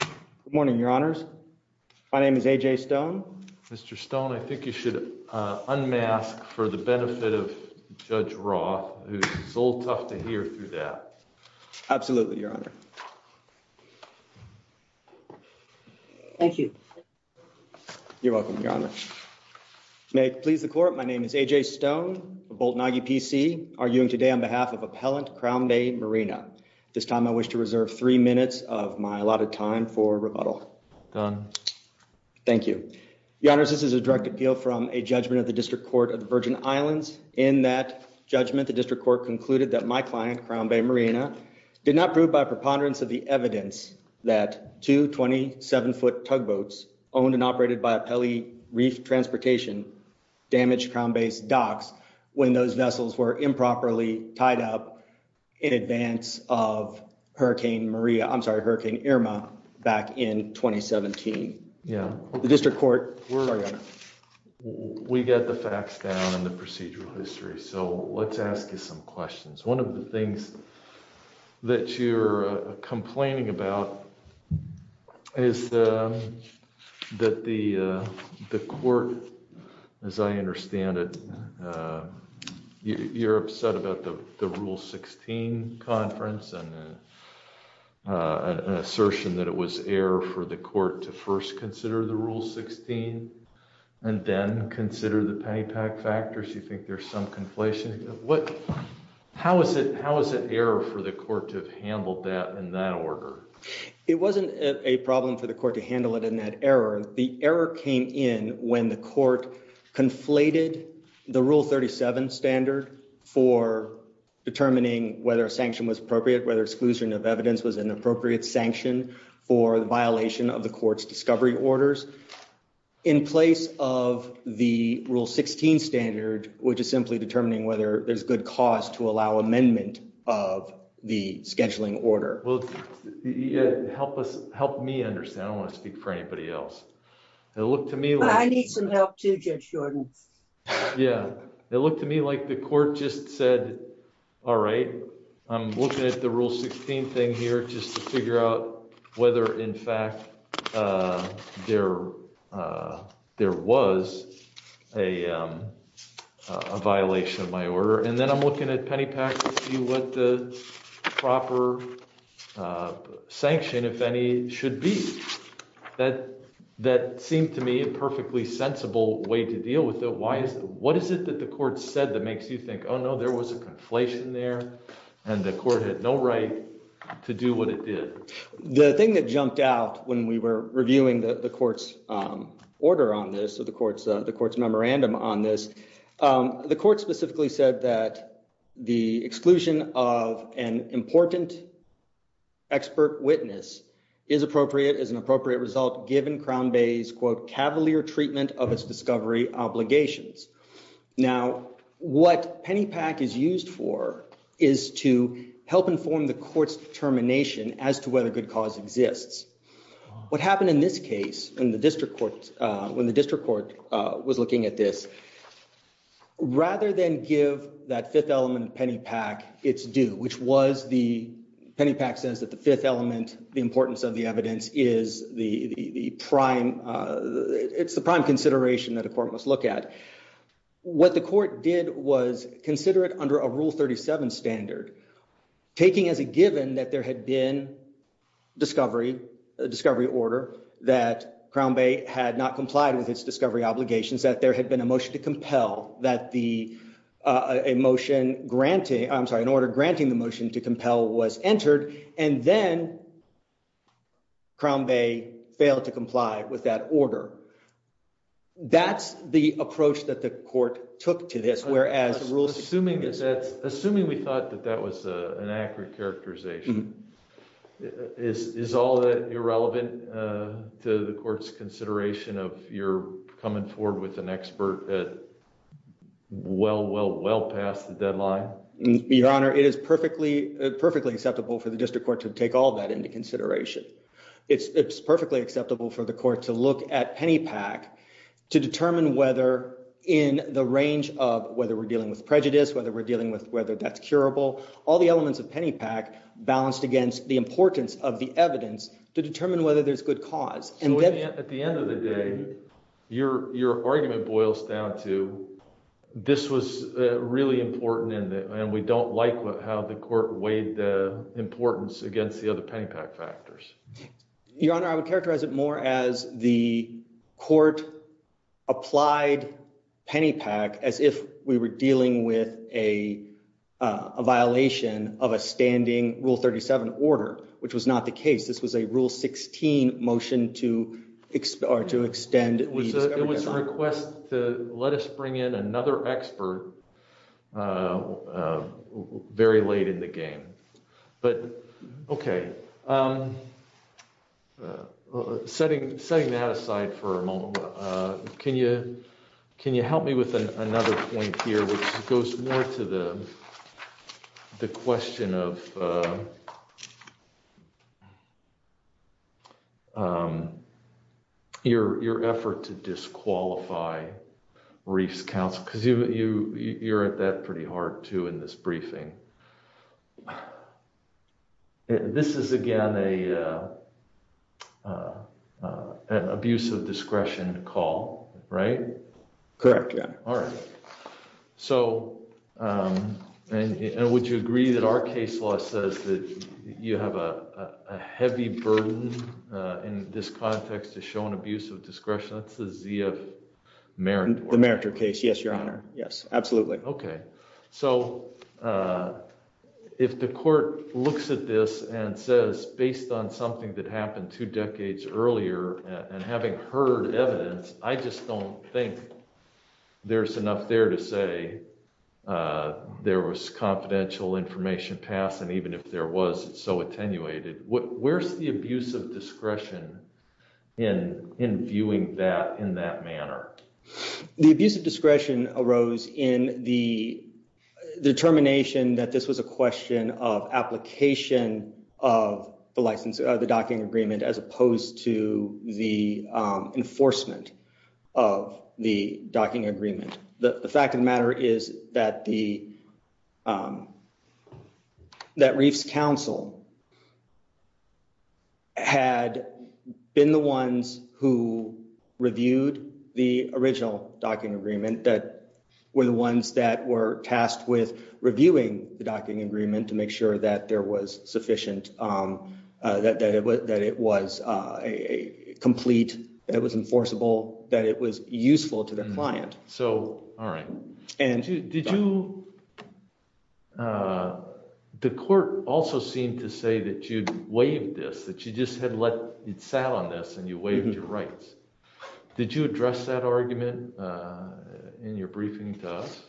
Good morning, Your Honors. My name is A.J. Stone. Mr. Stone, I think you should unmask for the benefit of Judge Roth, who is a little tough to hear through that. Absolutely, Your Honor. Thank you. You're welcome, Your Honor. May it please the Court, my name is A.J. Stone, a Bolton Aggie PC, arguing today on behalf of rebuttal. Thank you. Your Honors, this is a direct appeal from a judgment of the District Court of the Virgin Islands. In that judgment, the District Court concluded that my client, Crown Bay Marina, did not prove by preponderance of the evidence that two 27-foot tugboats, owned and operated by Pele Reef Transportation, damaged Crown Bay's docks when those vessels were improperly tied up in advance of Hurricane Maria, I'm sorry, Hurricane Irma back in 2017. Yeah. The District Court, where are you? We got the facts down and the procedural history, so let's ask you some questions. One of the things that you're complaining about is that the Court, as I understand it, you're upset about the Rule 16 conference and an assertion that it was error for the Court to first consider the Rule 16 and then consider the paddy pack factors. You think there's some conflation. What, how is it, how is it error for the Court to have handled that in that order? It wasn't a problem for the Court to handle it in that error. The error came in when the Court conflated the Rule 37 standard for determining whether a sanction was appropriate, whether exclusion of evidence was an appropriate sanction for the violation of the Court's discovery orders, in place of the Rule 16 standard, which is simply determining whether there's good cause to allow amendment of the scheduling order. Well, help us, help me understand. I don't want to speak for anybody else. It looked to me like... I need some help too, Judge Jordan. Yeah, it looked to me like the Court just said, all right, I'm looking at the Rule 16 thing here just to figure out whether, in fact, there was a violation of my order. And then I'm looking at that seemed to me a perfectly sensible way to deal with it. Why is, what is it that the Court said that makes you think, oh no, there was a conflation there and the Court had no right to do what it did? The thing that jumped out when we were reviewing the Court's order on this, the Court's memorandum on this, the Court specifically said that the exclusion of an cavalier treatment of its discovery obligations. Now, what Pennypack is used for is to help inform the Court's determination as to whether good cause exists. What happened in this case, when the District Court was looking at this, rather than give that fifth element of Pennypack its due, which was the, Pennypack says that the fifth element, the importance of the evidence, is the prime, it's the prime consideration that a Court must look at. What the Court did was consider it under a Rule 37 standard, taking as a given that there had been discovery, a discovery order, that Crown Bay had not complied with its discovery obligations, that there had been a motion to compel, that the, a motion granting, I'm sorry, an order granting the motion to compel was entered, and then Crown Bay failed to comply with that order. That's the approach that the Court took to this, whereas the Rule... Assuming that's, assuming we thought that that was an accurate characterization, is all that irrelevant to the Court's consideration of your coming forward with an expert at, well, well, well past the deadline? Your Honor, it is perfectly, perfectly acceptable for the District Court to take all that into consideration. It's, it's perfectly acceptable for the Court to look at Pennypack to determine whether in the range of whether we're dealing with prejudice, whether we're dealing with, whether that's curable, all the elements of Pennypack balanced against the importance of the evidence to determine whether there's good cause. So at the end of the day, your, your argument boils down to, this was really important and, and we don't like how the Court weighed the importance against the other Pennypack factors. Your Honor, I would characterize it more as the Court applied Pennypack as if we were dealing with a, a violation of a standing Rule 37 order, which was not the case. This was a Rule 16 motion to, or to extend... It was a request to let us bring in another expert very late in the game. But, okay. Setting, setting that aside for a moment, can you, can you help me with another point here, which goes more to the, the question of your, your effort to disqualify Reefs Council, because you, you, you're at that pretty hard too in this briefing. This is again a, an abuse of discretion call, right? Correct, yeah. All right. So, and, and would you agree that our case law says that you have a, a heavy burden in this context to show an abuse of discretion? That's the ZF Meritor. The Meritor case, yes, Your Honor. Yes, absolutely. Okay. So if the Court looks at this and says, based on something that happened two decades earlier, and having heard evidence, I just don't think there's enough there to say there was confidential information passed, and even if there was, it's so attenuated. Where's the abuse of discretion in, in viewing that in that manner? The abuse of discretion arose in the determination that this was a question of application of the license, the docking agreement, as opposed to the enforcement of the docking agreement. The fact of the matter is that the, that Reefs Council had been the ones who reviewed the original docking agreement, that were the ones that were tasked with reviewing the docking agreement to make sure that there was sufficient, that, that it was, that it was a complete, that it was enforceable, that it was useful to the client. So, all right. And did you, the Court also seemed to say that you'd waived this, that you just had let, you'd sat on this and you waived your rights. Did you address that argument in your briefing to us?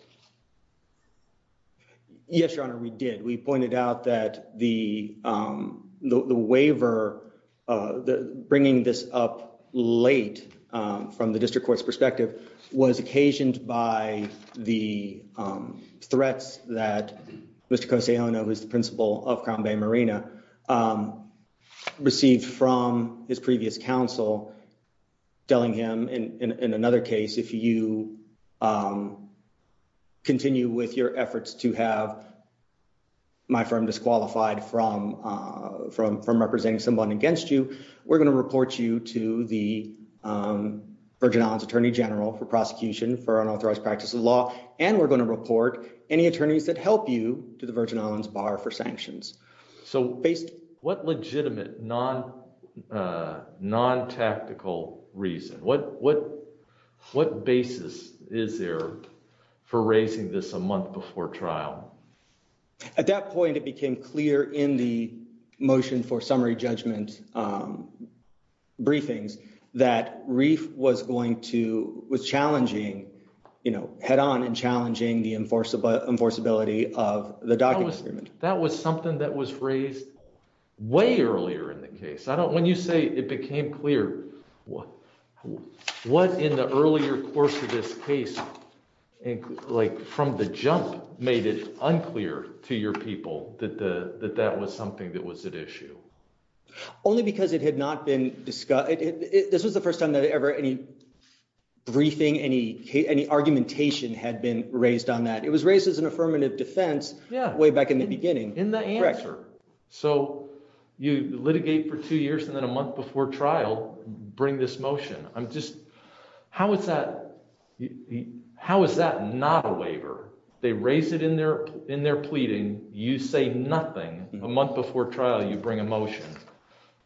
Yes, Your Honor, we did. We pointed out that the, the waiver, the bringing this up late from the District Court's perspective was occasioned by the threats that Mr. Kosayona, who's the principal of Crown Bay Marina, received from his previous counsel, telling him, in another case, if you continue with your efforts to have my firm disqualified from, from, from representing someone against you, we're going to report you to the Virgin Islands Attorney General for prosecution for unauthorized practice of law. And we're going to report any attorneys that help you to the Virgin Islands Bar for sanctions. So, based, what legitimate non, non-tactical reason, what, what, what basis is there for raising this a month before trial? At that point, it became clear in the motion for summary judgment briefings that Reif was going to, was challenging, you know, head-on in challenging the enforceable, enforceability of the docking agreement. That was something that was raised way earlier in the case. I don't, when you say it became clear, what in the earlier course of this case, like, from the jump made it unclear to your people that the, that that was something that was at issue? Only because it had not been discussed. This was the first time that ever any briefing, any, any argumentation had been raised on that. It was raised as an affirmative defense way back in the beginning. In the answer. So you litigate for two years and then a month before trial, bring this motion. I'm just, how is that, how is that not a waiver? They raise it in their, in their pleading. You say nothing. A month before trial, you bring a motion.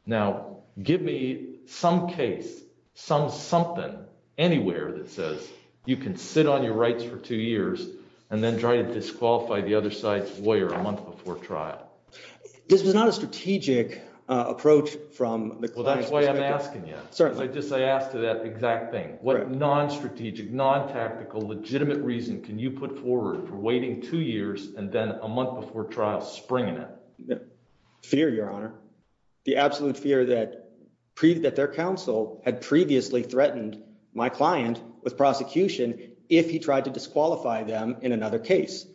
Now give me some case, some something, anywhere that says you can sit on your rights for two years and then try to disqualify the other side's lawyer a month before trial. This was not a strategic approach from the client's perspective. Well, that's why I'm asking you. I just, I asked you that exact thing. What non-strategic, non-tactical, legitimate reason can you put forward for waiting two years and then a month before trial springing it? Fear, your honor, the absolute fear that pre that their counsel had previously threatened my client with prosecution. If he tried to disqualify them in another case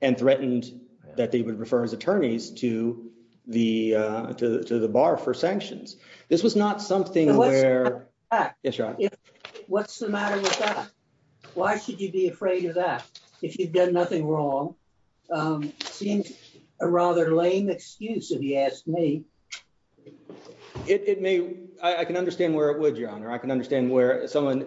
and threatened that they would refer as attorneys to the, to the, to the bar for sanctions. This was not something where, what's the matter with that? Why should you be afraid of that? If you've done nothing wrong, seems a rather lame excuse if you ask me. It may, I can understand where it would, your honor. I can understand where someone,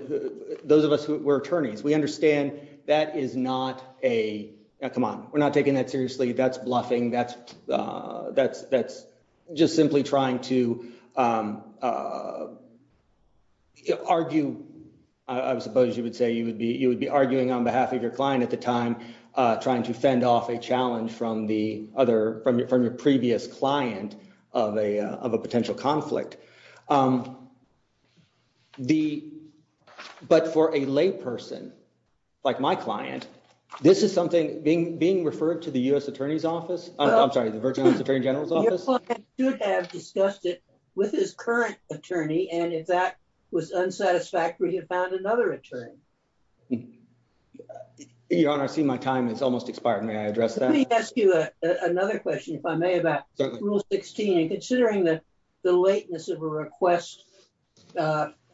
those of us who were attorneys, we understand that is not a, come on, we're not taking that seriously. That's bluffing. That's that's, that's just simply trying to argue. I suppose you would say you would be, you would be arguing on behalf of your client at the time trying to fend off a challenge from the other, from your, from your previous client of a, of a potential conflict. The, but for a lay person like my client, this is something being, being referred to the U.S. attorney's office. I'm sorry, the Virginia attorney general's office. Your client should have discussed it with his current attorney. And if that was unsatisfactory, he had found another attorney. Your honor, I see my time is almost expired. May I address that? Let me ask you another question, if I may, about rule 16 and considering that the lateness of a request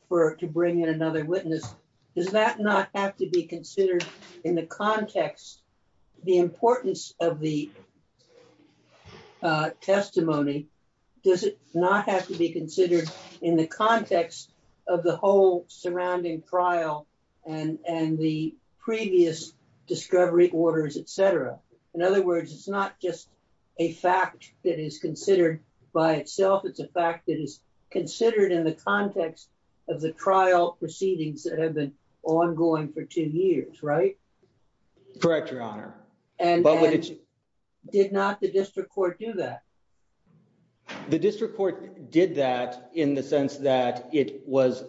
for, to bring in another witness, does that not have to be considered in the context, the importance of the testimony? Does it not have to be considered in the context of the whole surrounding trial and, and the previous discovery orders, et cetera. In other words, it's not just a fact that is considered by itself. It's a fact that is considered in the context of the trial proceedings that have been ongoing for two years, right? Correct your honor. And did not the district court do that? The district court did that in the sense that it was,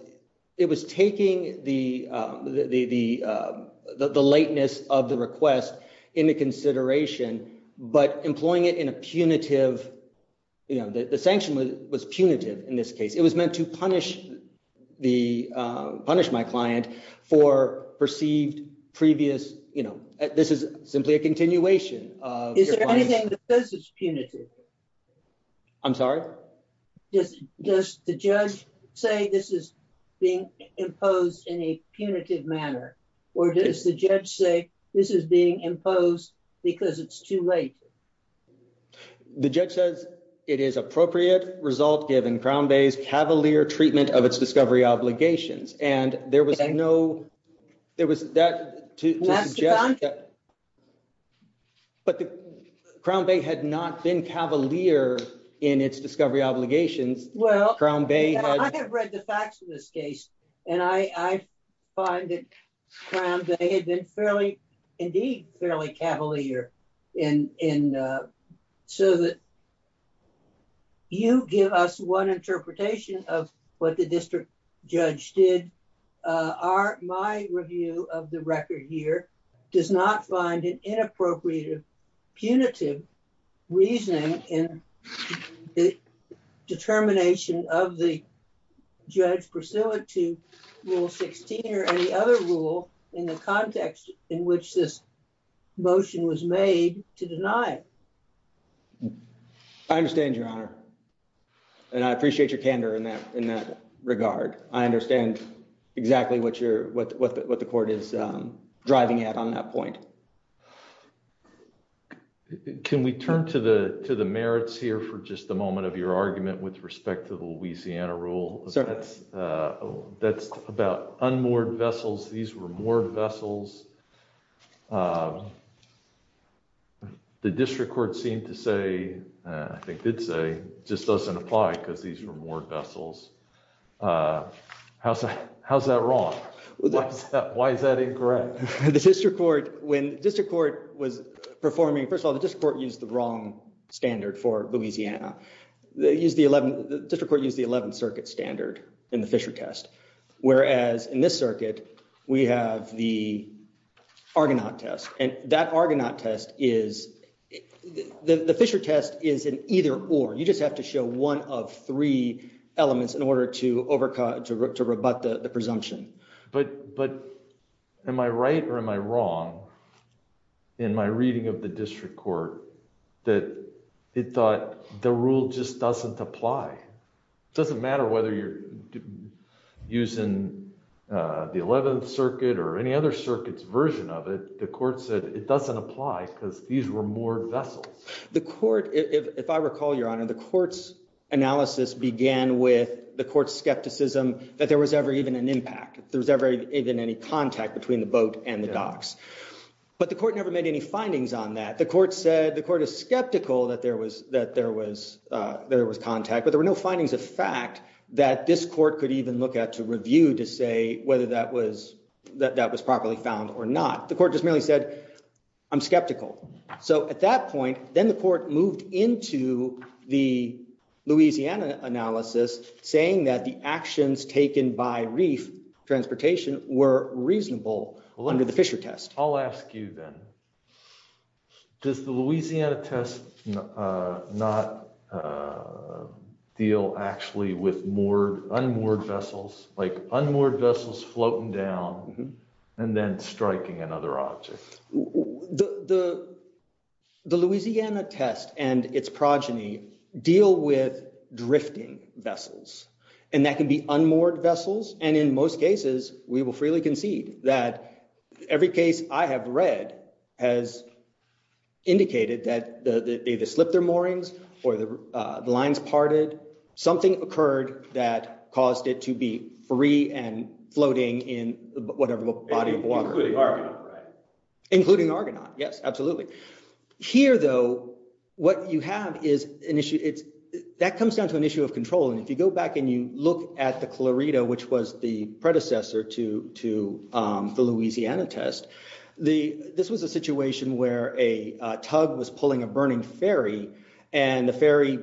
it was taking the, the, the, the lateness of the request into consideration, but employing it in a punitive, you know, the sanction was punitive in this case, it was meant to punish the, punish my client for perceived previous, you know, this is simply a continuation. Is there anything that says it's punitive? I'm sorry. Does the judge say this is being imposed in a punitive manner, or does the judge say this is being imposed because it's too late? The judge says it is appropriate result given Crown Bay's cavalier treatment of its discovery obligations. And there was no, there was that to, but the Crown Bay had not been cavalier in its discovery obligations. Well, I have read the facts of this case and I find that Crown Bay had been fairly, indeed fairly cavalier in, in so that you give us one interpretation of what the district judge did. Our, my review of the record here does not find an inappropriate punitive reasoning in the determination of the judge pursuant to rule 16 or any other rule in the context in which this motion was made to deny it. I understand your honor. And I appreciate your candor in that, in that regard. I understand exactly what you're, what, what, what the court is driving at on that point. Can we turn to the, to the merits here for just a moment of your argument with respect to the Louisiana rule? That's about unmoored vessels. These were moored vessels. The district court seemed to say, I think did say, just doesn't apply because these were moored vessels. How's that, how's that wrong? Why is that incorrect? The district court, when district court was performing, first of all, the district court used the wrong standard for Louisiana. They used the 11th, the district court used the 11th circuit standard in the Fisher test. Whereas in this circuit, we have the Argonaut test and that Argonaut test is the Fisher test is an either or you just have to show one of three elements in order to overcut, to rebut the presumption. But, but am I right or am I wrong in my reading of the district court that it thought the rule just doesn't apply? It doesn't matter whether you're using the 11th circuit or any other circuits version of it. The court said it doesn't apply because these were moored vessels. The court, if I recall, your honor, the court's analysis began with the court's skepticism that there was ever even an impact. There was ever even any contact between the boat and the docks, but the court never made any findings on that. The court said the court is skeptical that there was, there was contact, but there were no findings of fact that this court could even look at to review to say whether that was, that that was properly found or not. The court just merely said, I'm skeptical. So at that point, then the court moved into the Louisiana analysis saying that the actions taken by reef transportation were reasonable under the Fisher test. I'll ask you then, does the Louisiana test not deal actually with moored, unmoored vessels, like unmoored vessels floating down and then striking another object? The Louisiana test and its progeny deal with drifting vessels and that can be unmoored I have read has indicated that they either slipped their moorings or the lines parted. Something occurred that caused it to be free and floating in whatever body of water, including argonaut. Yes, absolutely. Here though, what you have is an issue. That comes down to an issue of control and if you go back and you look at the Clarita, which was the predecessor to the Louisiana test, this was a situation where a tug was pulling a burning ferry and the ferry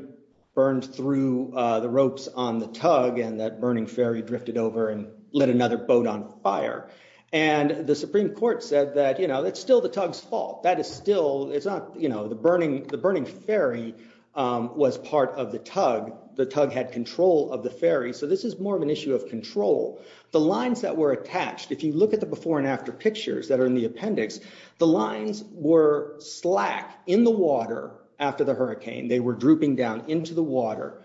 burned through the ropes on the tug and that burning ferry drifted over and lit another boat on fire. And the Supreme Court said that, you know, that's still the tug's fault. That is still, it's not, you know, the burning, the burning ferry was part of the tug. The tug had control of the ferry. So this is more of an issue of control. The lines that were attached, if you look at the before and after pictures that are in the appendix, the lines were slack in the water after the hurricane. They were drooping down into the water.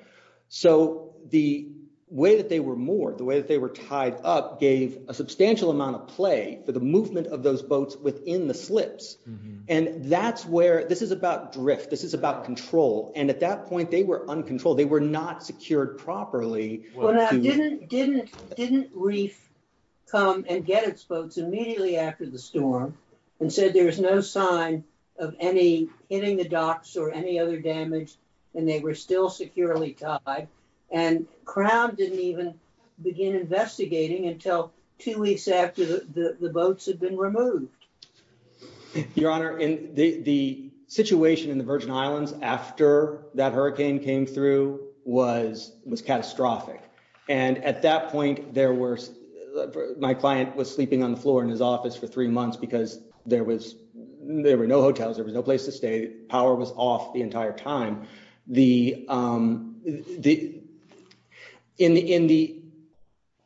So the way that they were moored, the way that they were tied up, gave a substantial amount of play for the movement of those boats within the slips. And that's where, this is about drift, this is about control, and at that point they were uncontrolled. They were not secured properly. Well now, didn't Reef come and get its boats immediately after the storm and said there was no sign of any hitting the docks or any other damage and they were still securely tied? And Crown didn't even begin investigating until two weeks after the boats had been removed. Your Honor, in the situation in the Virgin Islands after that hurricane came through was catastrophic. And at that point there were, my client was sleeping on the floor in his office for three months because there was, there were no hotels, there was no place to stay, power was off the entire time. In the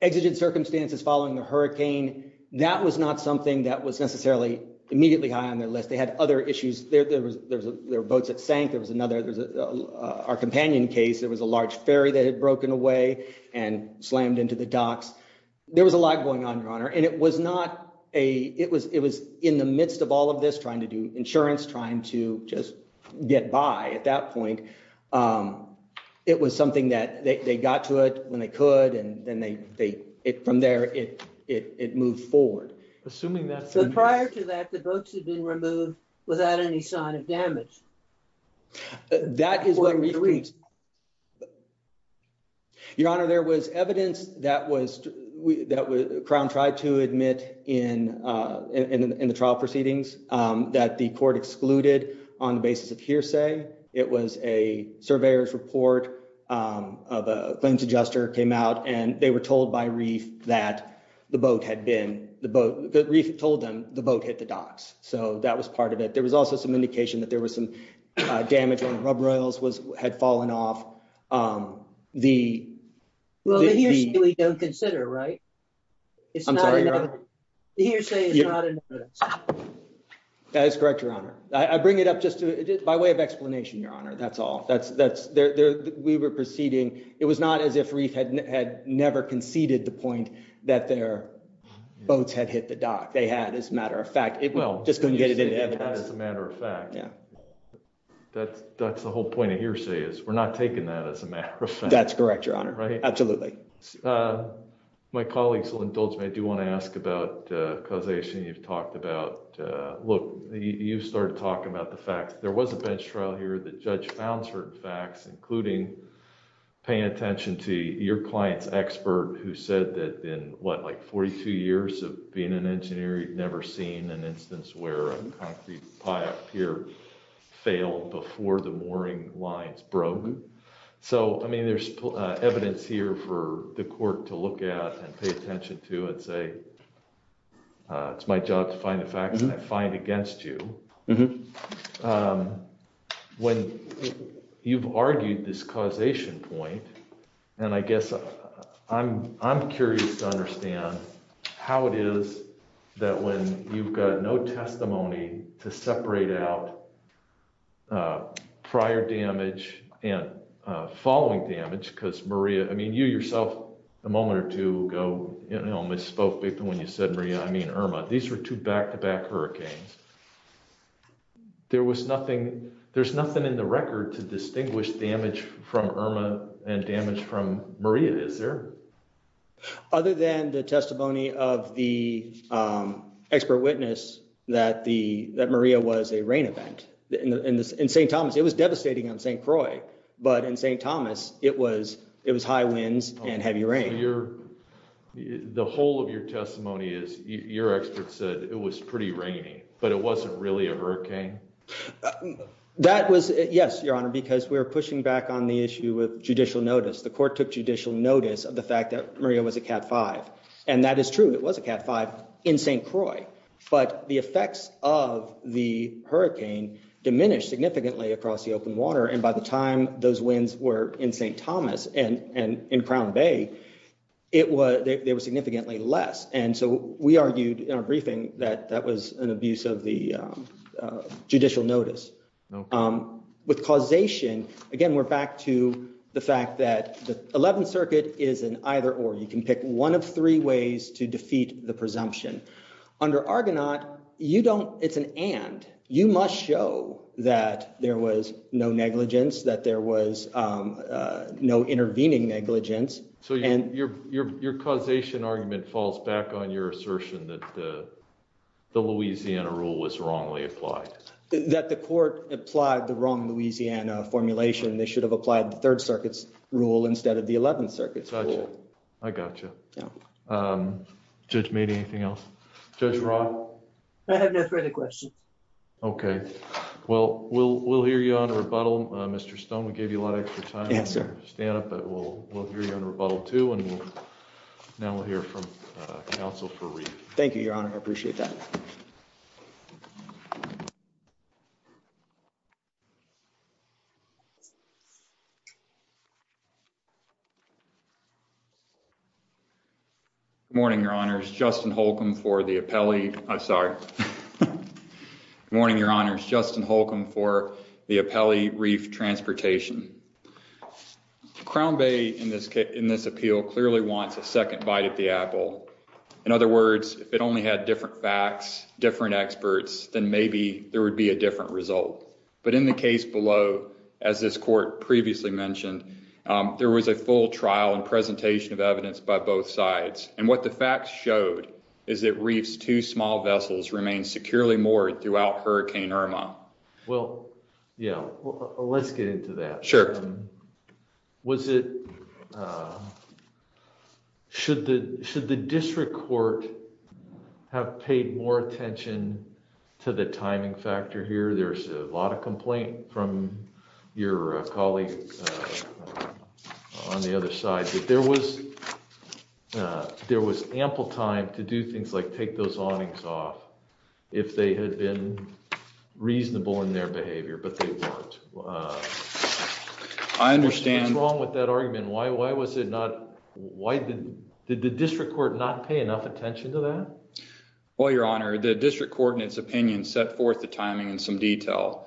exigent circumstances following the hurricane, that was not something that was necessarily immediately high on their list. They had other issues. There were boats that sank, there was another, our companion case, there was a large ferry that had broken away and slammed into the docks. There was a lot going on, Your Honor, and it was not a, it was in the midst of all of this trying to do insurance, trying to just get by at that point. It was something that they got to it when they could and then they, from there it moved forward. Assuming that... Prior to that, the boats had been removed without any sign of damage. That is... Your Honor, there was evidence that was, that Crown tried to admit in the trial proceedings that the court excluded on the basis of hearsay. It was a surveyor's report of a claims boat hit the docks, so that was part of it. There was also some indication that there was some damage on the rub rails, had fallen off. The... Well, the hearsay we don't consider, right? I'm sorry, Your Honor. The hearsay is not a notice. That is correct, Your Honor. I bring it up just to, by way of explanation, Your Honor, that's all. That's, that's, there, we were proceeding, it was not as if Reef had never conceded the point that their boats had hit the dock. They had, as a matter of fact, just couldn't get it in evidence. As a matter of fact, that's, that's the whole point of hearsay, is we're not taking that as a matter of fact. That's correct, Your Honor. Right? Absolutely. My colleagues will indulge me, I do want to ask about causation you've talked about. Look, you started talking about the fact that there was a bench trial here, the judge found certain facts, including paying attention to your client's who said that in, what, like 42 years of being an engineer, he'd never seen an instance where a concrete pier failed before the mooring lines broke. So, I mean, there's evidence here for the court to look at and pay attention to and say, it's my job to find the facts I find against you. When you've argued this causation point, and I guess I'm, I'm curious to understand how it is that when you've got no testimony to separate out prior damage and following damage, because Maria, I mean, you yourself a moment or two ago, you know, misspoke when you said Maria, I mean Irma. These were two back-to-back hurricanes. There was nothing, there's nothing in the record to distinguish damage from Irma and damage from Maria, is there? Other than the testimony of the expert witness that the, that Maria was a rain event. In St. Thomas, it was devastating on St. Croix, but in St. Thomas, it was, it was high winds and heavy rain. Your, the whole of your testimony is, your expert said it was pretty rainy, but it wasn't really a hurricane? That was, yes, your honor, because we're pushing back on the issue of judicial notice. The court took judicial notice of the fact that Maria was a Cat 5, and that is true. It was a Cat 5 in St. Croix, but the effects of the hurricane diminished significantly across the open water, and by the time those winds were in St. Thomas and, and in it was, they were significantly less, and so we argued in our briefing that that was an abuse of the judicial notice. With causation, again, we're back to the fact that the 11th circuit is an either-or. You can pick one of three ways to defeat the presumption. Under Argonaut, you don't, it's an and. You must show that there was no negligence, that there was no intervening negligence. So your, your, your causation argument falls back on your assertion that the, the Louisiana rule was wrongly applied? That the court applied the wrong Louisiana formulation. They should have applied the 3rd circuit's rule instead of the 11th circuit's rule. I gotcha. Judge Meade, anything else? Judge Roth? I have no further questions. Okay. Well, we'll, we'll hear you on the rebuttal, Mr. Stone. We gave you a lot of extra time to stand up, but we'll, we'll hear you on rebuttal two, and we'll, now we'll hear from Council for Reef. Thank you, Your Honor. I appreciate that. Morning, Your Honors. Justin Holcomb for the appellee, I'm sorry. Morning, Your Honors. Justin Holcomb for the appellee, Reef Transportation. Crown Bay, in this case, in this appeal, clearly wants a second bite at the apple. In other words, if it only had different facts, different experts, then maybe there would be a different result. But in the case below, as this court previously mentioned, there was a full trial and presentation of evidence by both sides. And what the facts showed is that Reef's two small vessels remain securely moored throughout Hurricane Irma. Well, yeah, let's get into that. Sure. Was it, should the, should the district court have paid more attention to the timing factor here? There's a lot of complaint from your colleagues on the other side that there was, there was ample time to do things like take those awnings off if they had been reasonable in their behavior, but they weren't. I understand. What's wrong with that argument? Why, why was it not, why did, did the district court not pay enough attention to that? Well, Your Honor, the district court in its opinion set forth the timing in some detail.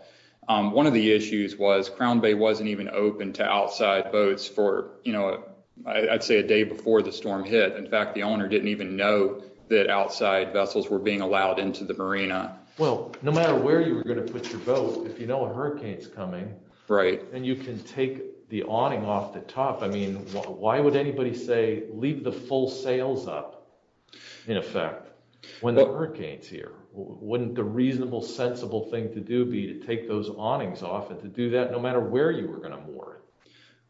One of the issues was Crown Bay wasn't even open to outside boats for, you know, I'd say a day before the storm hit. In fact, the owner didn't even know that outside vessels were being allowed into the marina. Well, no matter where you were going to put your boat, if you know a hurricane's coming. Right. And you can take the awning off the top. I mean, why would anybody say leave the full sails up in effect when the hurricane's here? Wouldn't the reasonable, sensible thing to do be to take those awnings off and to do that no matter where you were going to moor?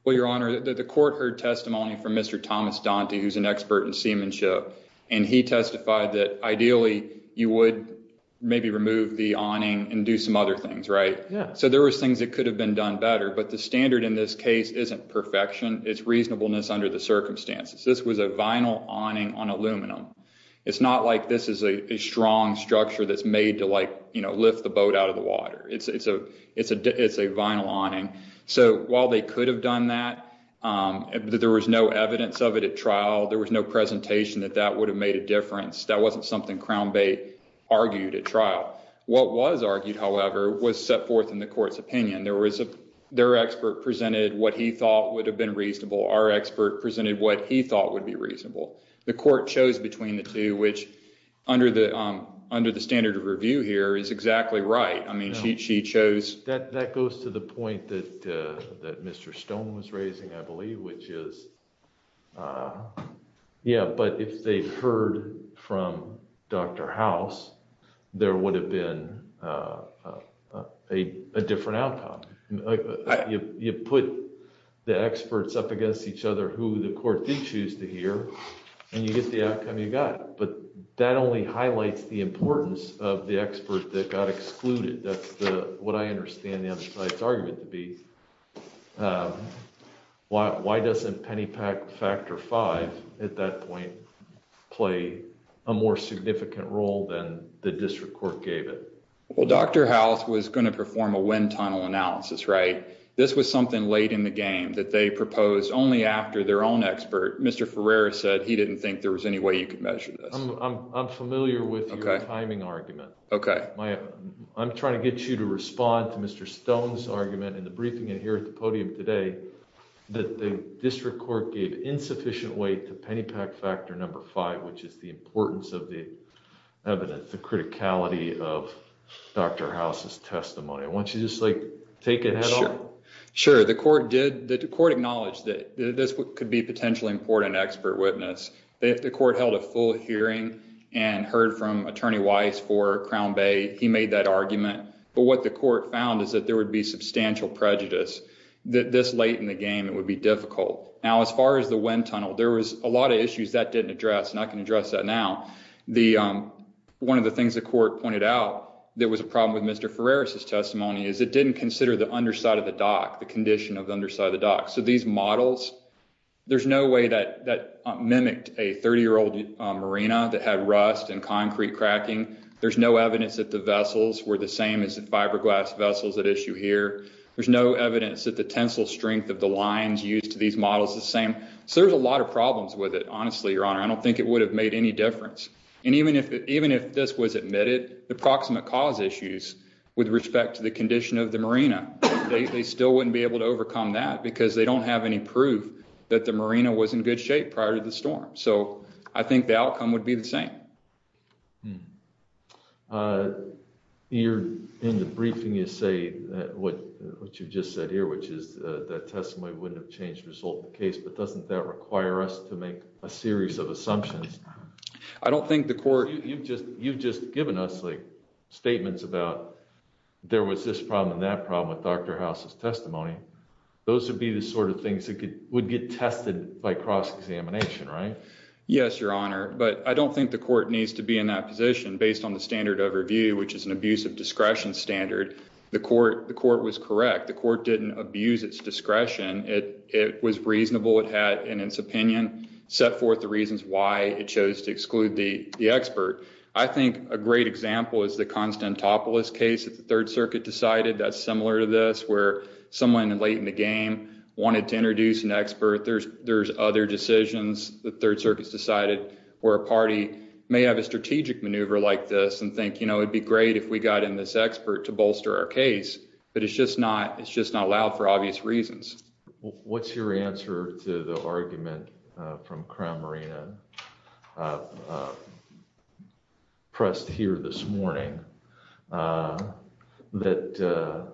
Well, Your Honor, the court heard testimony from Mr. Thomas Dante, who's an expert in seamanship, and he testified that ideally you would maybe remove the awning and do some other things, right? Yeah. So there was things that could have been done better, but the standard in this case isn't perfection. It's reasonableness under the circumstances. This was a vinyl awning on aluminum. It's not like this is a strong structure that's made to like, you know, lift the boat out of the water. It's a, it's a, it's a vinyl awning. So while they could have done that, there was no evidence of it at trial. There was no presentation that that would have made a difference. That wasn't something Crown Bait argued at trial. What was argued, however, was set forth in the court's opinion. There was a, their expert presented what he thought would have been reasonable. Our expert presented what he thought would be reasonable. The court chose between the two, which under the, under the standard of review here is exactly right. I mean, she, she chose. That, that goes to the point that, uh, that Mr. Stone was raising, I believe, which is, uh, yeah, but if they heard from Dr. House, there would have been, uh, uh, a, a different outcome. You put the experts up against each other who the court did choose to hear and you get the outcome you got. But that only highlights the importance of the expert that got excluded. That's the, what I understand the other side's argument to be. Um, why, why doesn't penny pack factor five at that point play a more significant role than the district court gave it? Well, Dr. House was going to perform a wind tunnel analysis, right? This was something late in the game that they proposed only after their own expert, Mr. Ferreira said he didn't think there was any way you could measure this. I'm familiar with your timing argument. Okay. My, I'm trying to get you to respond to Mr. Stone's argument in the briefing and here at the podium today that the district court gave insufficient weight to penny pack factor number five, which is the importance of the evidence, the criticality of Dr. House's testimony. I want you to just like take it head on. Sure. The court did, the court acknowledged that this could be potentially important expert witness. The court held a full hearing and heard from attorney Weiss for Crown Bay. He made that argument, but what the court found is that there would be substantial prejudice that this late in the game, it would be difficult. Now, as far as the wind tunnel, there was a lot of issues that didn't address, and I can address that now. The, um, one of the things the court pointed out, there was a problem with Mr. Ferreira's testimony is it didn't consider the underside of the dock, the condition of the underside of the dock. So these models, there's no way that that mimicked a 30 year old marina that had rust and concrete cracking. There's no evidence that the vessels were the same as the fiberglass vessels that issue here. There's no evidence that the tensile strength of the lines used to these models the same. So there's a lot of problems with it. Honestly, your honor, I don't think it would have made any difference. And even if, even if this was admitted, the proximate cause issues with respect to the condition of the marina, they still wouldn't be able to overcome that because they don't have any proof that the marina was in good shape prior to the storm. So I think the outcome would be the same. You're in the briefing, you say that what you've just said here, which is that testimony wouldn't have changed the result of the case, but doesn't that require us to make a series of assumptions? I don't think the court, you've just, you've just given us like statements about there was this problem and that problem with Dr. House's testimony. Those would be the sort of things that would get tested by cross-examination, right? Yes, your honor. But I don't think the court needs to be in that position based on the standard overview, which is an abuse of discretion standard. The court was correct. The court didn't abuse its discretion. It was reasonable. It had, in its opinion, set forth the reasons why it chose to exclude the expert. I think a great example is the Constantopoulos case the third circuit decided. That's similar to this where someone late in the game wanted to introduce an expert. There's other decisions the third circuits decided where a party may have a strategic maneuver like this and think, you know, it'd be great if we got in this expert to bolster our case, but it's just not, it's just not allowed for obvious reasons. What's your answer to the that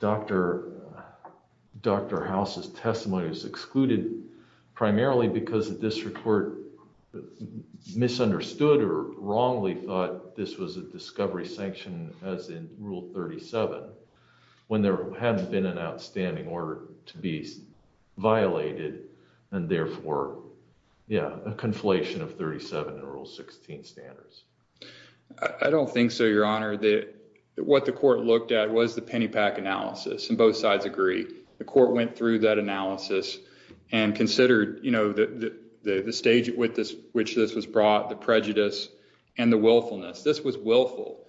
Dr. House's testimony was excluded primarily because the district court misunderstood or wrongly thought this was a discovery sanction as in Rule 37 when there hadn't been an outstanding order to be violated and therefore, yeah, a conflation of 37 in Rule 16 standards. I don't think so, your honor, that what the court looked at was the penny pack analysis and both sides agree. The court went through that analysis and considered, you know, the stage with this, which this was brought, the prejudice and the willfulness. This was willful.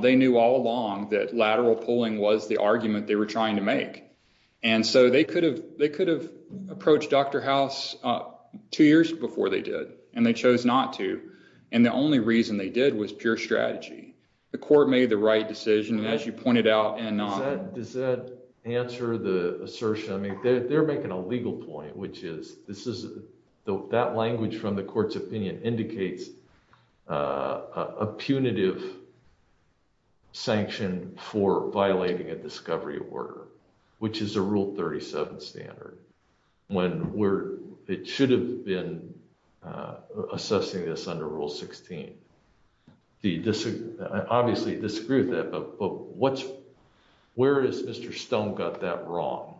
They knew all along that lateral pulling was the argument they were trying to make. And so they could have, they could have approached Dr. House two years before they did, and they chose not to. And the only reason they did was pure strategy. The court made the right decision, as you pointed out and not. Does that answer the assertion? I mean, they're making a legal point, which is this is that language from the court's opinion indicates a punitive sanction for violating a discovery order, which is a Rule 37 standard. When we're, it should have been assessing this under Rule 16. The obviously disagreed with that, but what's, where is Mr. Stone got that wrong?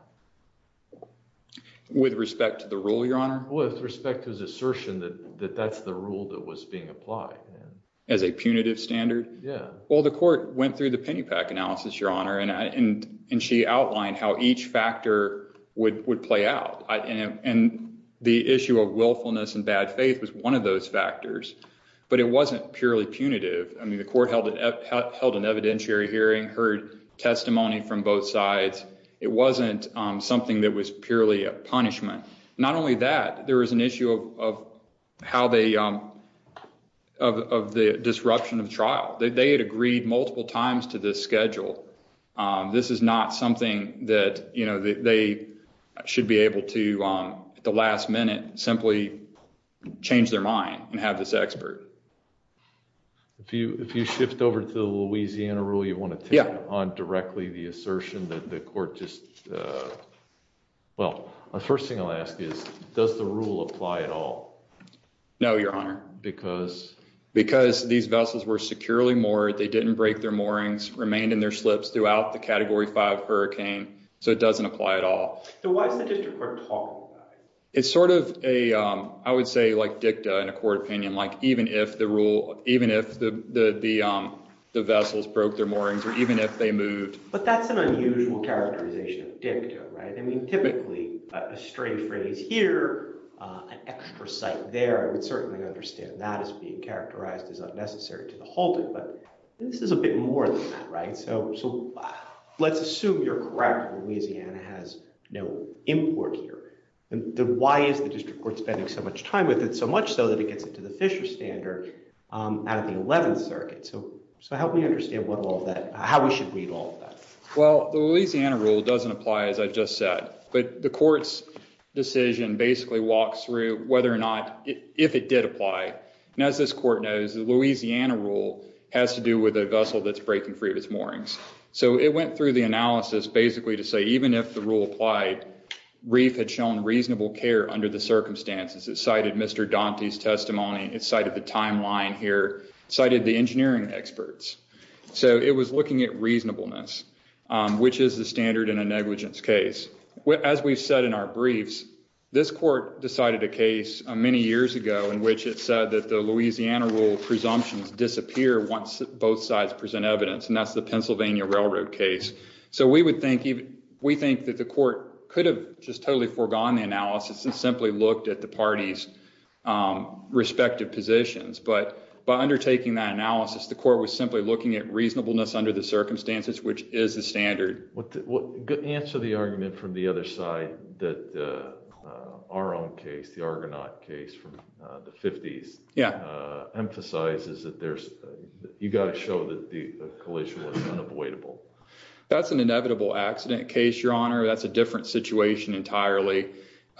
With respect to the rule, your honor? With respect to his assertion that that's the rule that was being applied. As a punitive standard? Yeah. Well, the court went through the Pennypack analysis, your honor, and she outlined how each factor would play out. And the issue of willfulness and bad faith was one of those factors, but it wasn't purely punitive. I mean, the court held an evidentiary hearing, heard testimony from both sides. It wasn't something that was purely a punishment. Not only that, there was an issue of how they, of the disruption of trial. They had agreed multiple times to this schedule. This is not something that, you know, they should be able to, at the last minute, simply change their mind and have this expert. If you shift over to the Louisiana rule, you want to take on directly the assertion that the court just, well, the first thing I'll ask is, does the rule apply at all? No, your honor. Because? Because these vessels were securely moored, they didn't break their moorings, remained in their slips throughout the Category 5 hurricane, so it doesn't apply at all. So why is the district court talking about it? It's sort of a, I would say, like dicta in a court opinion, like even if the rule, even if the vessels broke their moorings or even if they moved. But that's an unusual characterization of dicta, right? I mean, typically a stray phrase here, an extra site there. I would certainly understand that as being characterized as unnecessary to the whole thing. But this is a bit more than that, right? So let's assume you're correct, Louisiana has no import here. Then why is the district court spending so much time with it? So much so that it gets into the Fisher standard out of the 11th circuit. So help me understand what all of that, how we should read all of that. Well, the Louisiana rule doesn't apply, as I just said. But the court's decision basically walks through whether or not, if it did apply. And as this court knows, the Louisiana rule has to do with a vessel that's breaking free of its moorings. So it went through the analysis basically to say even if the rule applied, REEF had shown reasonable care under the circumstances. It cited Mr. Dante's testimony, it cited the timeline here, cited the engineering experts. So it was looking at reasonableness, which is the standard in a negligence case. As we've said in our briefs, this court decided a case many years ago in which it said that the Louisiana rule presumptions disappear once both sides present evidence. And that's the Pennsylvania Railroad case. So we would think, we think that the court could have just totally foregone the analysis and simply looked at the parties' respective positions. But by undertaking that was simply looking at reasonableness under the circumstances, which is the standard. Answer the argument from the other side that our own case, the Argonaut case from the 50s, emphasizes that you've got to show that the collision was unavoidable. That's an inevitable accident case, Your Honor. That's a different situation entirely.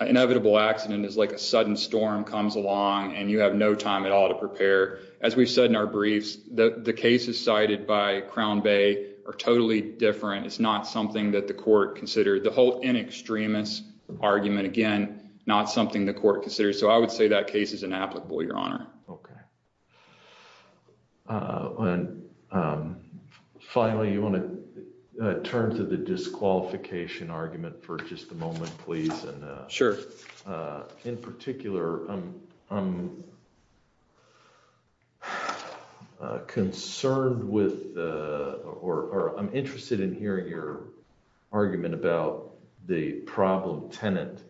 Inevitable accident is like a sudden storm comes along and you have no time at all to prepare. As we've said in our briefs, the cases cited by Crown Bay are totally different. It's not something that the court considered. The whole in extremis argument, again, not something the court considered. So I would say that case is inapplicable, Your Honor. Okay. And finally, you want to turn to the disqualification argument for just a moment, please. Sure. In particular, I'm concerned with or I'm interested in hearing your argument about the problem-tenant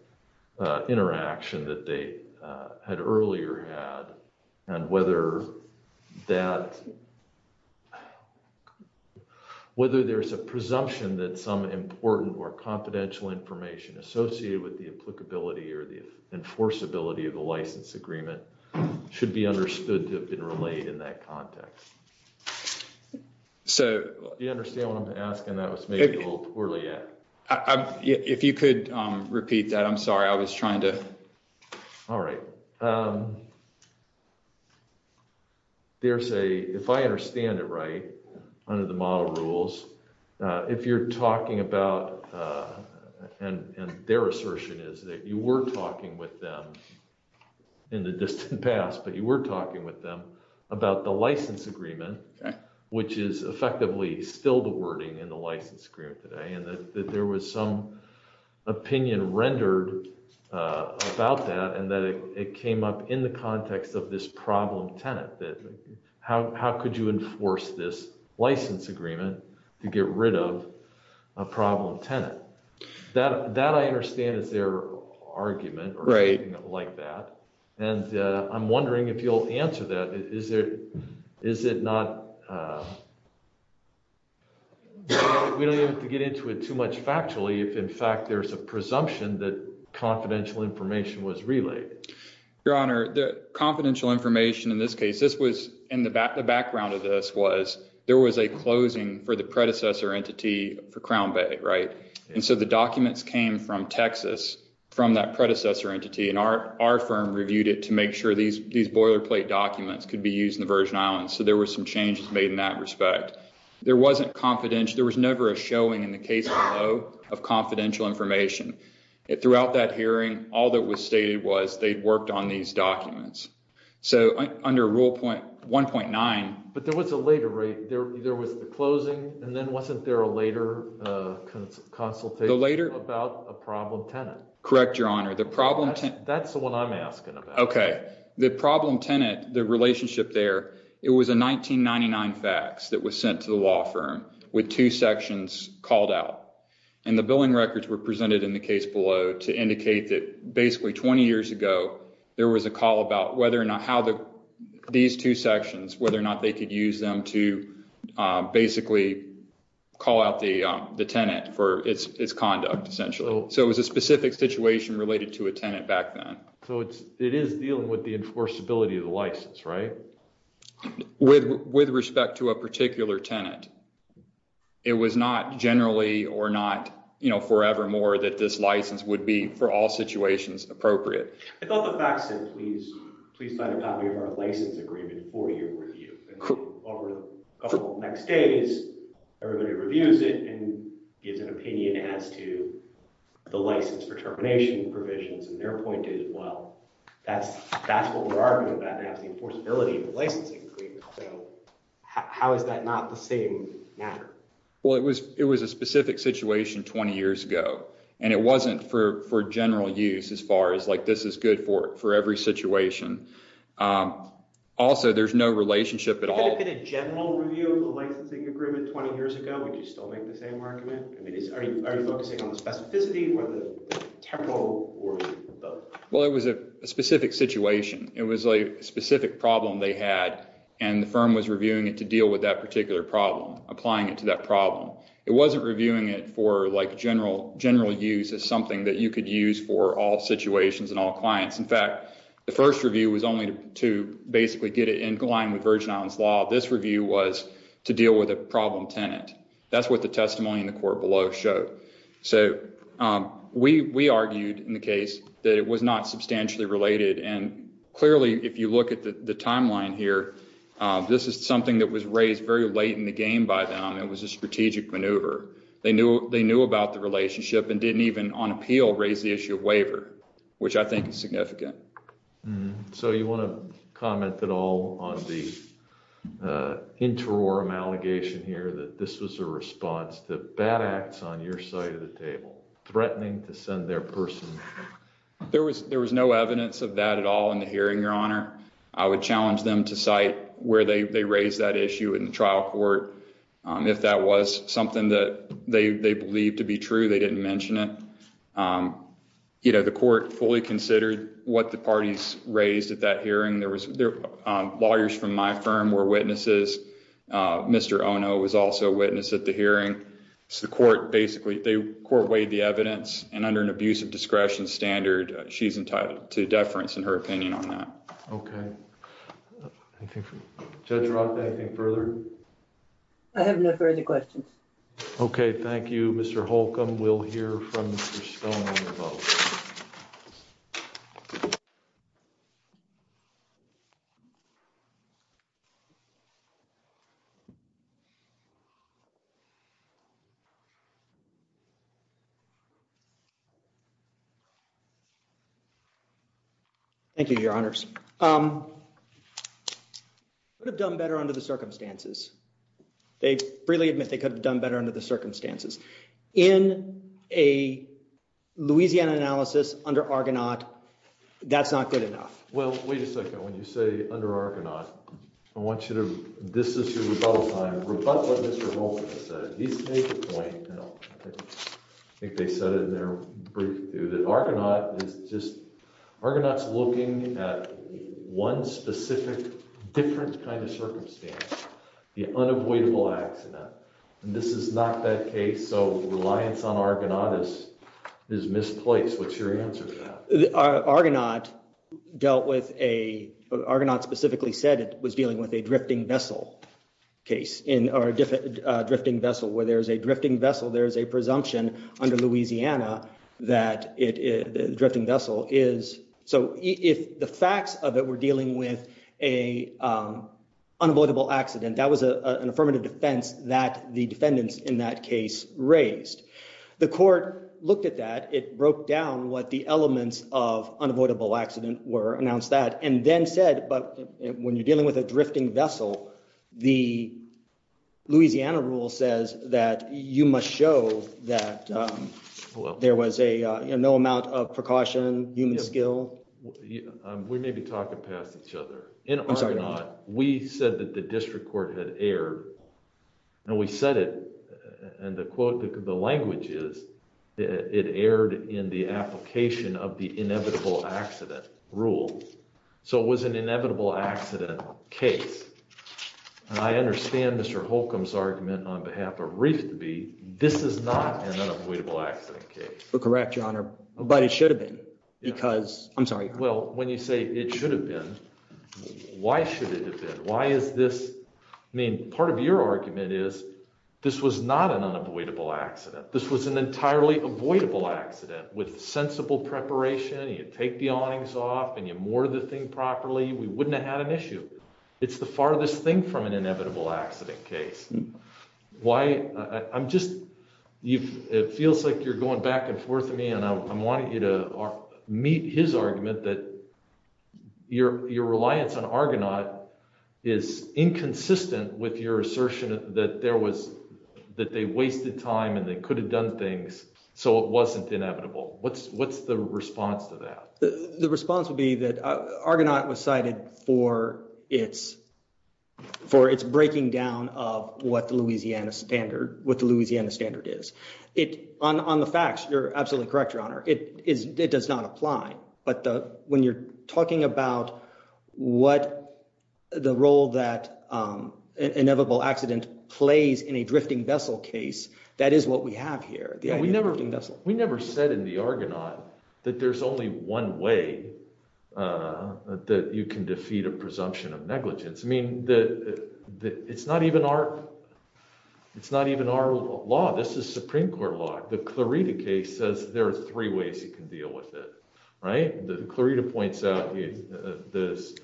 interaction that they had earlier had and whether that, whether there's a presumption that some important or confidential information associated with the applicability or the enforceability of the license agreement should be understood to have been relayed in that context. So you understand what I'm asking? That was maybe a little poorly. If you could repeat that, I'm sorry. I was trying to. All right. So there's a, if I understand it right, under the model rules, if you're talking about, and their assertion is that you were talking with them in the distant past, but you were talking with them about the license agreement, which is effectively still the wording in the license agreement today, and that there was some opinion rendered about that and that it came up in the context of this problem-tenant, that how could you enforce this license agreement to get rid of a problem-tenant? That I understand is their argument or something like that. And I'm wondering if you'll answer that. Is it, is it not, we don't have to get into it too much factually, if in fact there's a presumption that confidential information was relayed. Your Honor, the confidential information in this case, this was in the background of this was, there was a closing for the predecessor entity for Crown Bay, right? And so the documents came from Texas, from that predecessor entity, and our firm reviewed it to make sure these boilerplate documents could be used in the Virgin Islands. So there were some changes made in that respect. There wasn't confidential, there was never a showing in the case below of confidential information. Throughout that hearing, all that was stated was they'd worked on these documents. So under Rule 1.9. But there was a later, right? There was a consultation about a problem-tenant. Correct, Your Honor. The problem-tenant. That's the one I'm asking about. Okay. The problem-tenant, the relationship there, it was a 1999 fax that was sent to the law firm with two sections called out. And the billing records were presented in the case below to indicate that basically 20 years ago there was a call about whether or not how the these two sections, whether or not they could use them to basically call out the tenant for its conduct, essentially. So it was a specific situation related to a tenant back then. So it is dealing with the enforceability of the license, right? With respect to a particular tenant, it was not generally or not, you know, forevermore that this license would be, for all situations, appropriate. I thought the fax said, please sign a copy of our license agreement for your review. Over the next days, everybody reviews it and gives an opinion as to the license for termination provisions. And their point is, well, that's what we're arguing about as the enforceability of the licensing agreement. So how is that not the same matter? Well, it was a specific situation 20 years ago, and it wasn't for general use as far as like this is good for every situation. Also, there's no relationship at all. Could it have been a general review of the licensing agreement 20 years ago? Would you still make the same argument? I mean, are you focusing on the specificity or the temporal or both? Well, it was a specific situation. It was a specific problem they had, and the firm was reviewing it to deal with that particular problem, applying it to that problem. It wasn't reviewing it for like general use as something that you could use for all situations and all clients. In fact, the first review was only to basically get it in line with Virgin Islands law. This review was to deal with a problem tenant. That's what the testimony in the court below showed. So we argued in the case that it was not substantially related. And clearly, if you look at the timeline here, this is something that was raised very late in the game by them. It was a strategic maneuver. They knew about the relationship and didn't even on appeal raise the issue of waiver, which I think is significant. So you want to comment at all on the interim allegation here that this was a response to bad acts on your side of the table, threatening to send their person? There was no evidence of that at all in the hearing, Your Honor. I would challenge them to cite where they raised that issue in the trial court. If that was something that they believed to be true, they didn't mention it. You know, the court fully considered what the parties raised at that hearing. Lawyers from my firm were witnesses. Mr. Ono was also a witness at the hearing. So the court basically weighed the evidence, and under an abuse of discretion standard, she's entitled to deference in her opinion. Okay. Judge Roth, anything further? I have no further questions. Okay. Thank you, Mr. Holcomb. We'll hear from Mr. Stone on the vote. Thank you, Your Honors. Could have done better under the circumstances. They freely admit they could have done better under the circumstances. In a Louisiana analysis under Argonaut, that's not good enough. Well, wait a second. When you say under Argonaut, I want you to, this is your rebuttal time, rebut what Mr. Holcomb said. He's made the point, and I think they said it in their brief, too, that Argonaut is just, Argonaut's looking at one specific different kind of circumstance, the unavoidable accident. And this is not that case. So reliance on Argonaut is misplaced. What's your answer to that? Argonaut dealt with a, Argonaut specifically said it was dealing with a drifting vessel case, or a drifting vessel. Where there's a drifting vessel, there's a presumption under Louisiana that the drifting vessel is, so if the facts of it were dealing with a unavoidable accident, that was an affirmative defense that the defendants in that case raised. The court looked at that. It broke down what the elements of unavoidable accident were, announced that, and then said, but when you're dealing with a drifting vessel, the Louisiana rule says that you must show that there was a, you know, no amount of precaution, human skill. We may be talking past each other. In Argonaut, we said that the district court had erred, and we said it, and the quote, the language is that it erred in the application of the inevitable accident case. And I understand Mr. Holcomb's argument on behalf of Reef to Be, this is not an unavoidable accident case. But correct, your honor, but it should have been, because, I'm sorry. Well, when you say it should have been, why should it have been? Why is this, I mean, part of your argument is, this was not an unavoidable accident. This was an entirely avoidable accident with sensible preparation. You take the awnings off, and you moored the ship. We wouldn't have had an issue. It's the farthest thing from an inevitable accident case. Why, I'm just, it feels like you're going back and forth to me, and I'm wanting you to meet his argument that your reliance on Argonaut is inconsistent with your assertion that there was, that they wasted time, and they could have done things, so it wasn't inevitable. What's the response to that? The response would be that Argonaut was cited for its breaking down of what the Louisiana standard is. On the facts, you're absolutely correct, your honor. It does not apply. But when you're talking about what the role that inevitable accident plays in a drifting vessel case, that is what we have here, the idea of drifting vessel. We never said in the Argonaut that there's only one way that you can defeat a presumption of negligence. I mean, it's not even our law. This is Supreme Court law. The Clarita case says there are three ways you can deal with it, right? Clarita points out this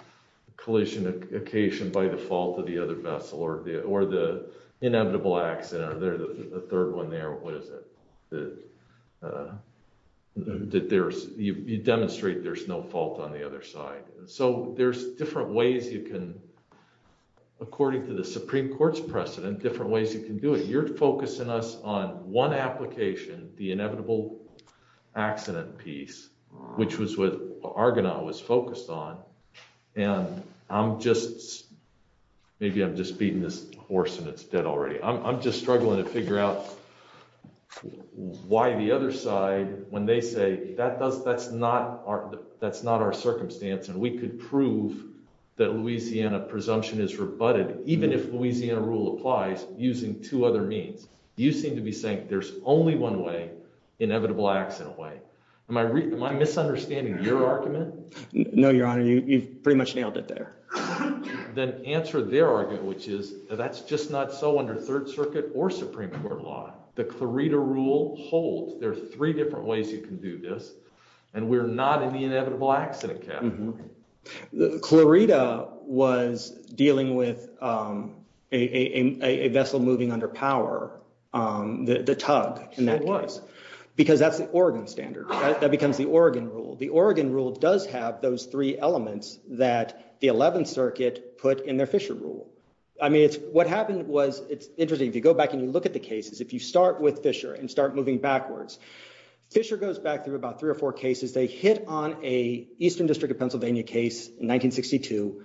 collision occasion by the fault of the other vessel, or the inevitable accident, or the third one there, what is it? I don't know. You demonstrate there's no fault on the other side. So there's different ways you can, according to the Supreme Court's precedent, different ways you can do it. You're focusing us on one application, the inevitable accident piece, which was what Argonaut was focused on, and I'm just, maybe I'm just beating this horse and it's dead already. I'm just struggling to when they say that's not our circumstance and we could prove that Louisiana presumption is rebutted, even if Louisiana rule applies, using two other means. You seem to be saying there's only one way, inevitable accident way. Am I misunderstanding your argument? No, Your Honor, you've pretty much nailed it there. Then answer their argument, which is that's just not so under Third Circuit or Supreme Court law. The Clarita rule holds. There are three different ways you can do this, and we're not in the inevitable accident category. Clarita was dealing with a vessel moving under power, the tug in that case, because that's the Oregon standard. That becomes the Oregon rule. The Oregon rule does have those three elements that the 11th Circuit put in their Fisher rule. I mean, what happened was, it's interesting, if you go back and you look at the cases, if you start with Fisher and start moving backwards, Fisher goes back through about three or four cases. They hit on a Eastern District of Pennsylvania case in 1962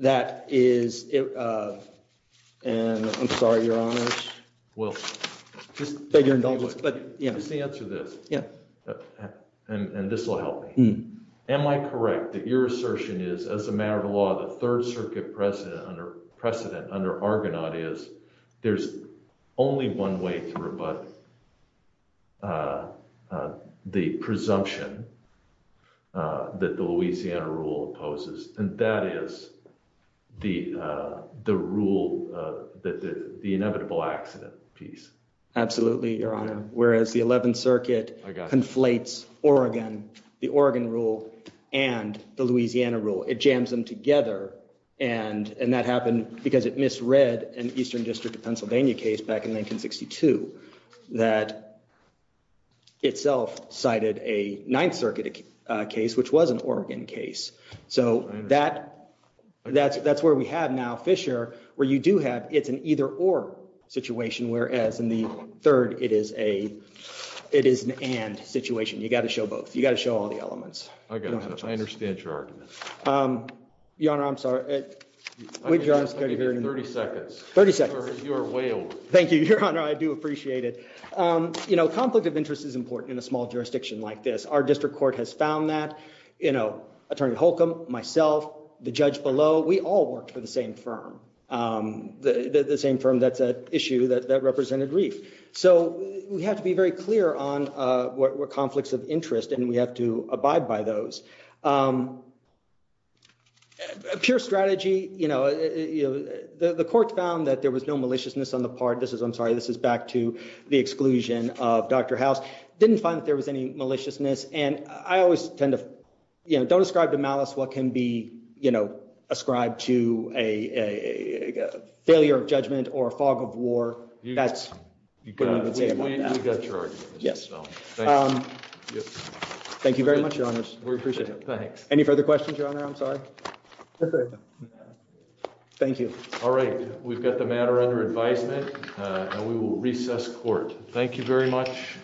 that is, and I'm sorry, Your Honor, just beg your indulgence, but yeah. Just answer this, and this will help me. Am I correct that your assertion is, as a matter of precedent, under Argonaut is, there's only one way to rebut the presumption that the Louisiana rule opposes, and that is the rule, the inevitable accident piece? Absolutely, Your Honor, whereas the 11th Circuit conflates Oregon, the Oregon rule, and the Louisiana rule. It jams them together, and that happened because it misread an Eastern District of Pennsylvania case back in 1962 that itself cited a 9th Circuit case, which was an Oregon case. So that's where we have now Fisher, where you do have, it's an either-or situation, whereas in the third, it is an and situation. You got to show both. You got to show all the elements. I understand your argument. Your Honor, I'm sorry. Wait, Your Honor, I'm just going to hear it in the room. 30 seconds. 30 seconds. You are way over. Thank you, Your Honor. I do appreciate it. You know, conflict of interest is important in a small jurisdiction like this. Our district court has found that. You know, Attorney Holcomb, myself, the judge below, we all worked for the same firm, the same firm that's at issue that represented Reef. So we have to be very clear on what conflicts of interest, and we have to identify those. Pure strategy, you know, the court found that there was no maliciousness on the part. This is, I'm sorry, this is back to the exclusion of Dr. House. Didn't find that there was any maliciousness, and I always tend to, you know, don't ascribe to malice what can be, you know, ascribed to a failure of judgment or a fog of war. That's what I would say about that. You got your argument, Mr. Stone. Thank you. Thank you very much, Your Honors. We appreciate it. Thanks. Any further questions, Your Honor? I'm sorry. Thank you. All right. We've got the matter under advisement, and we will recess court. Thank you very much.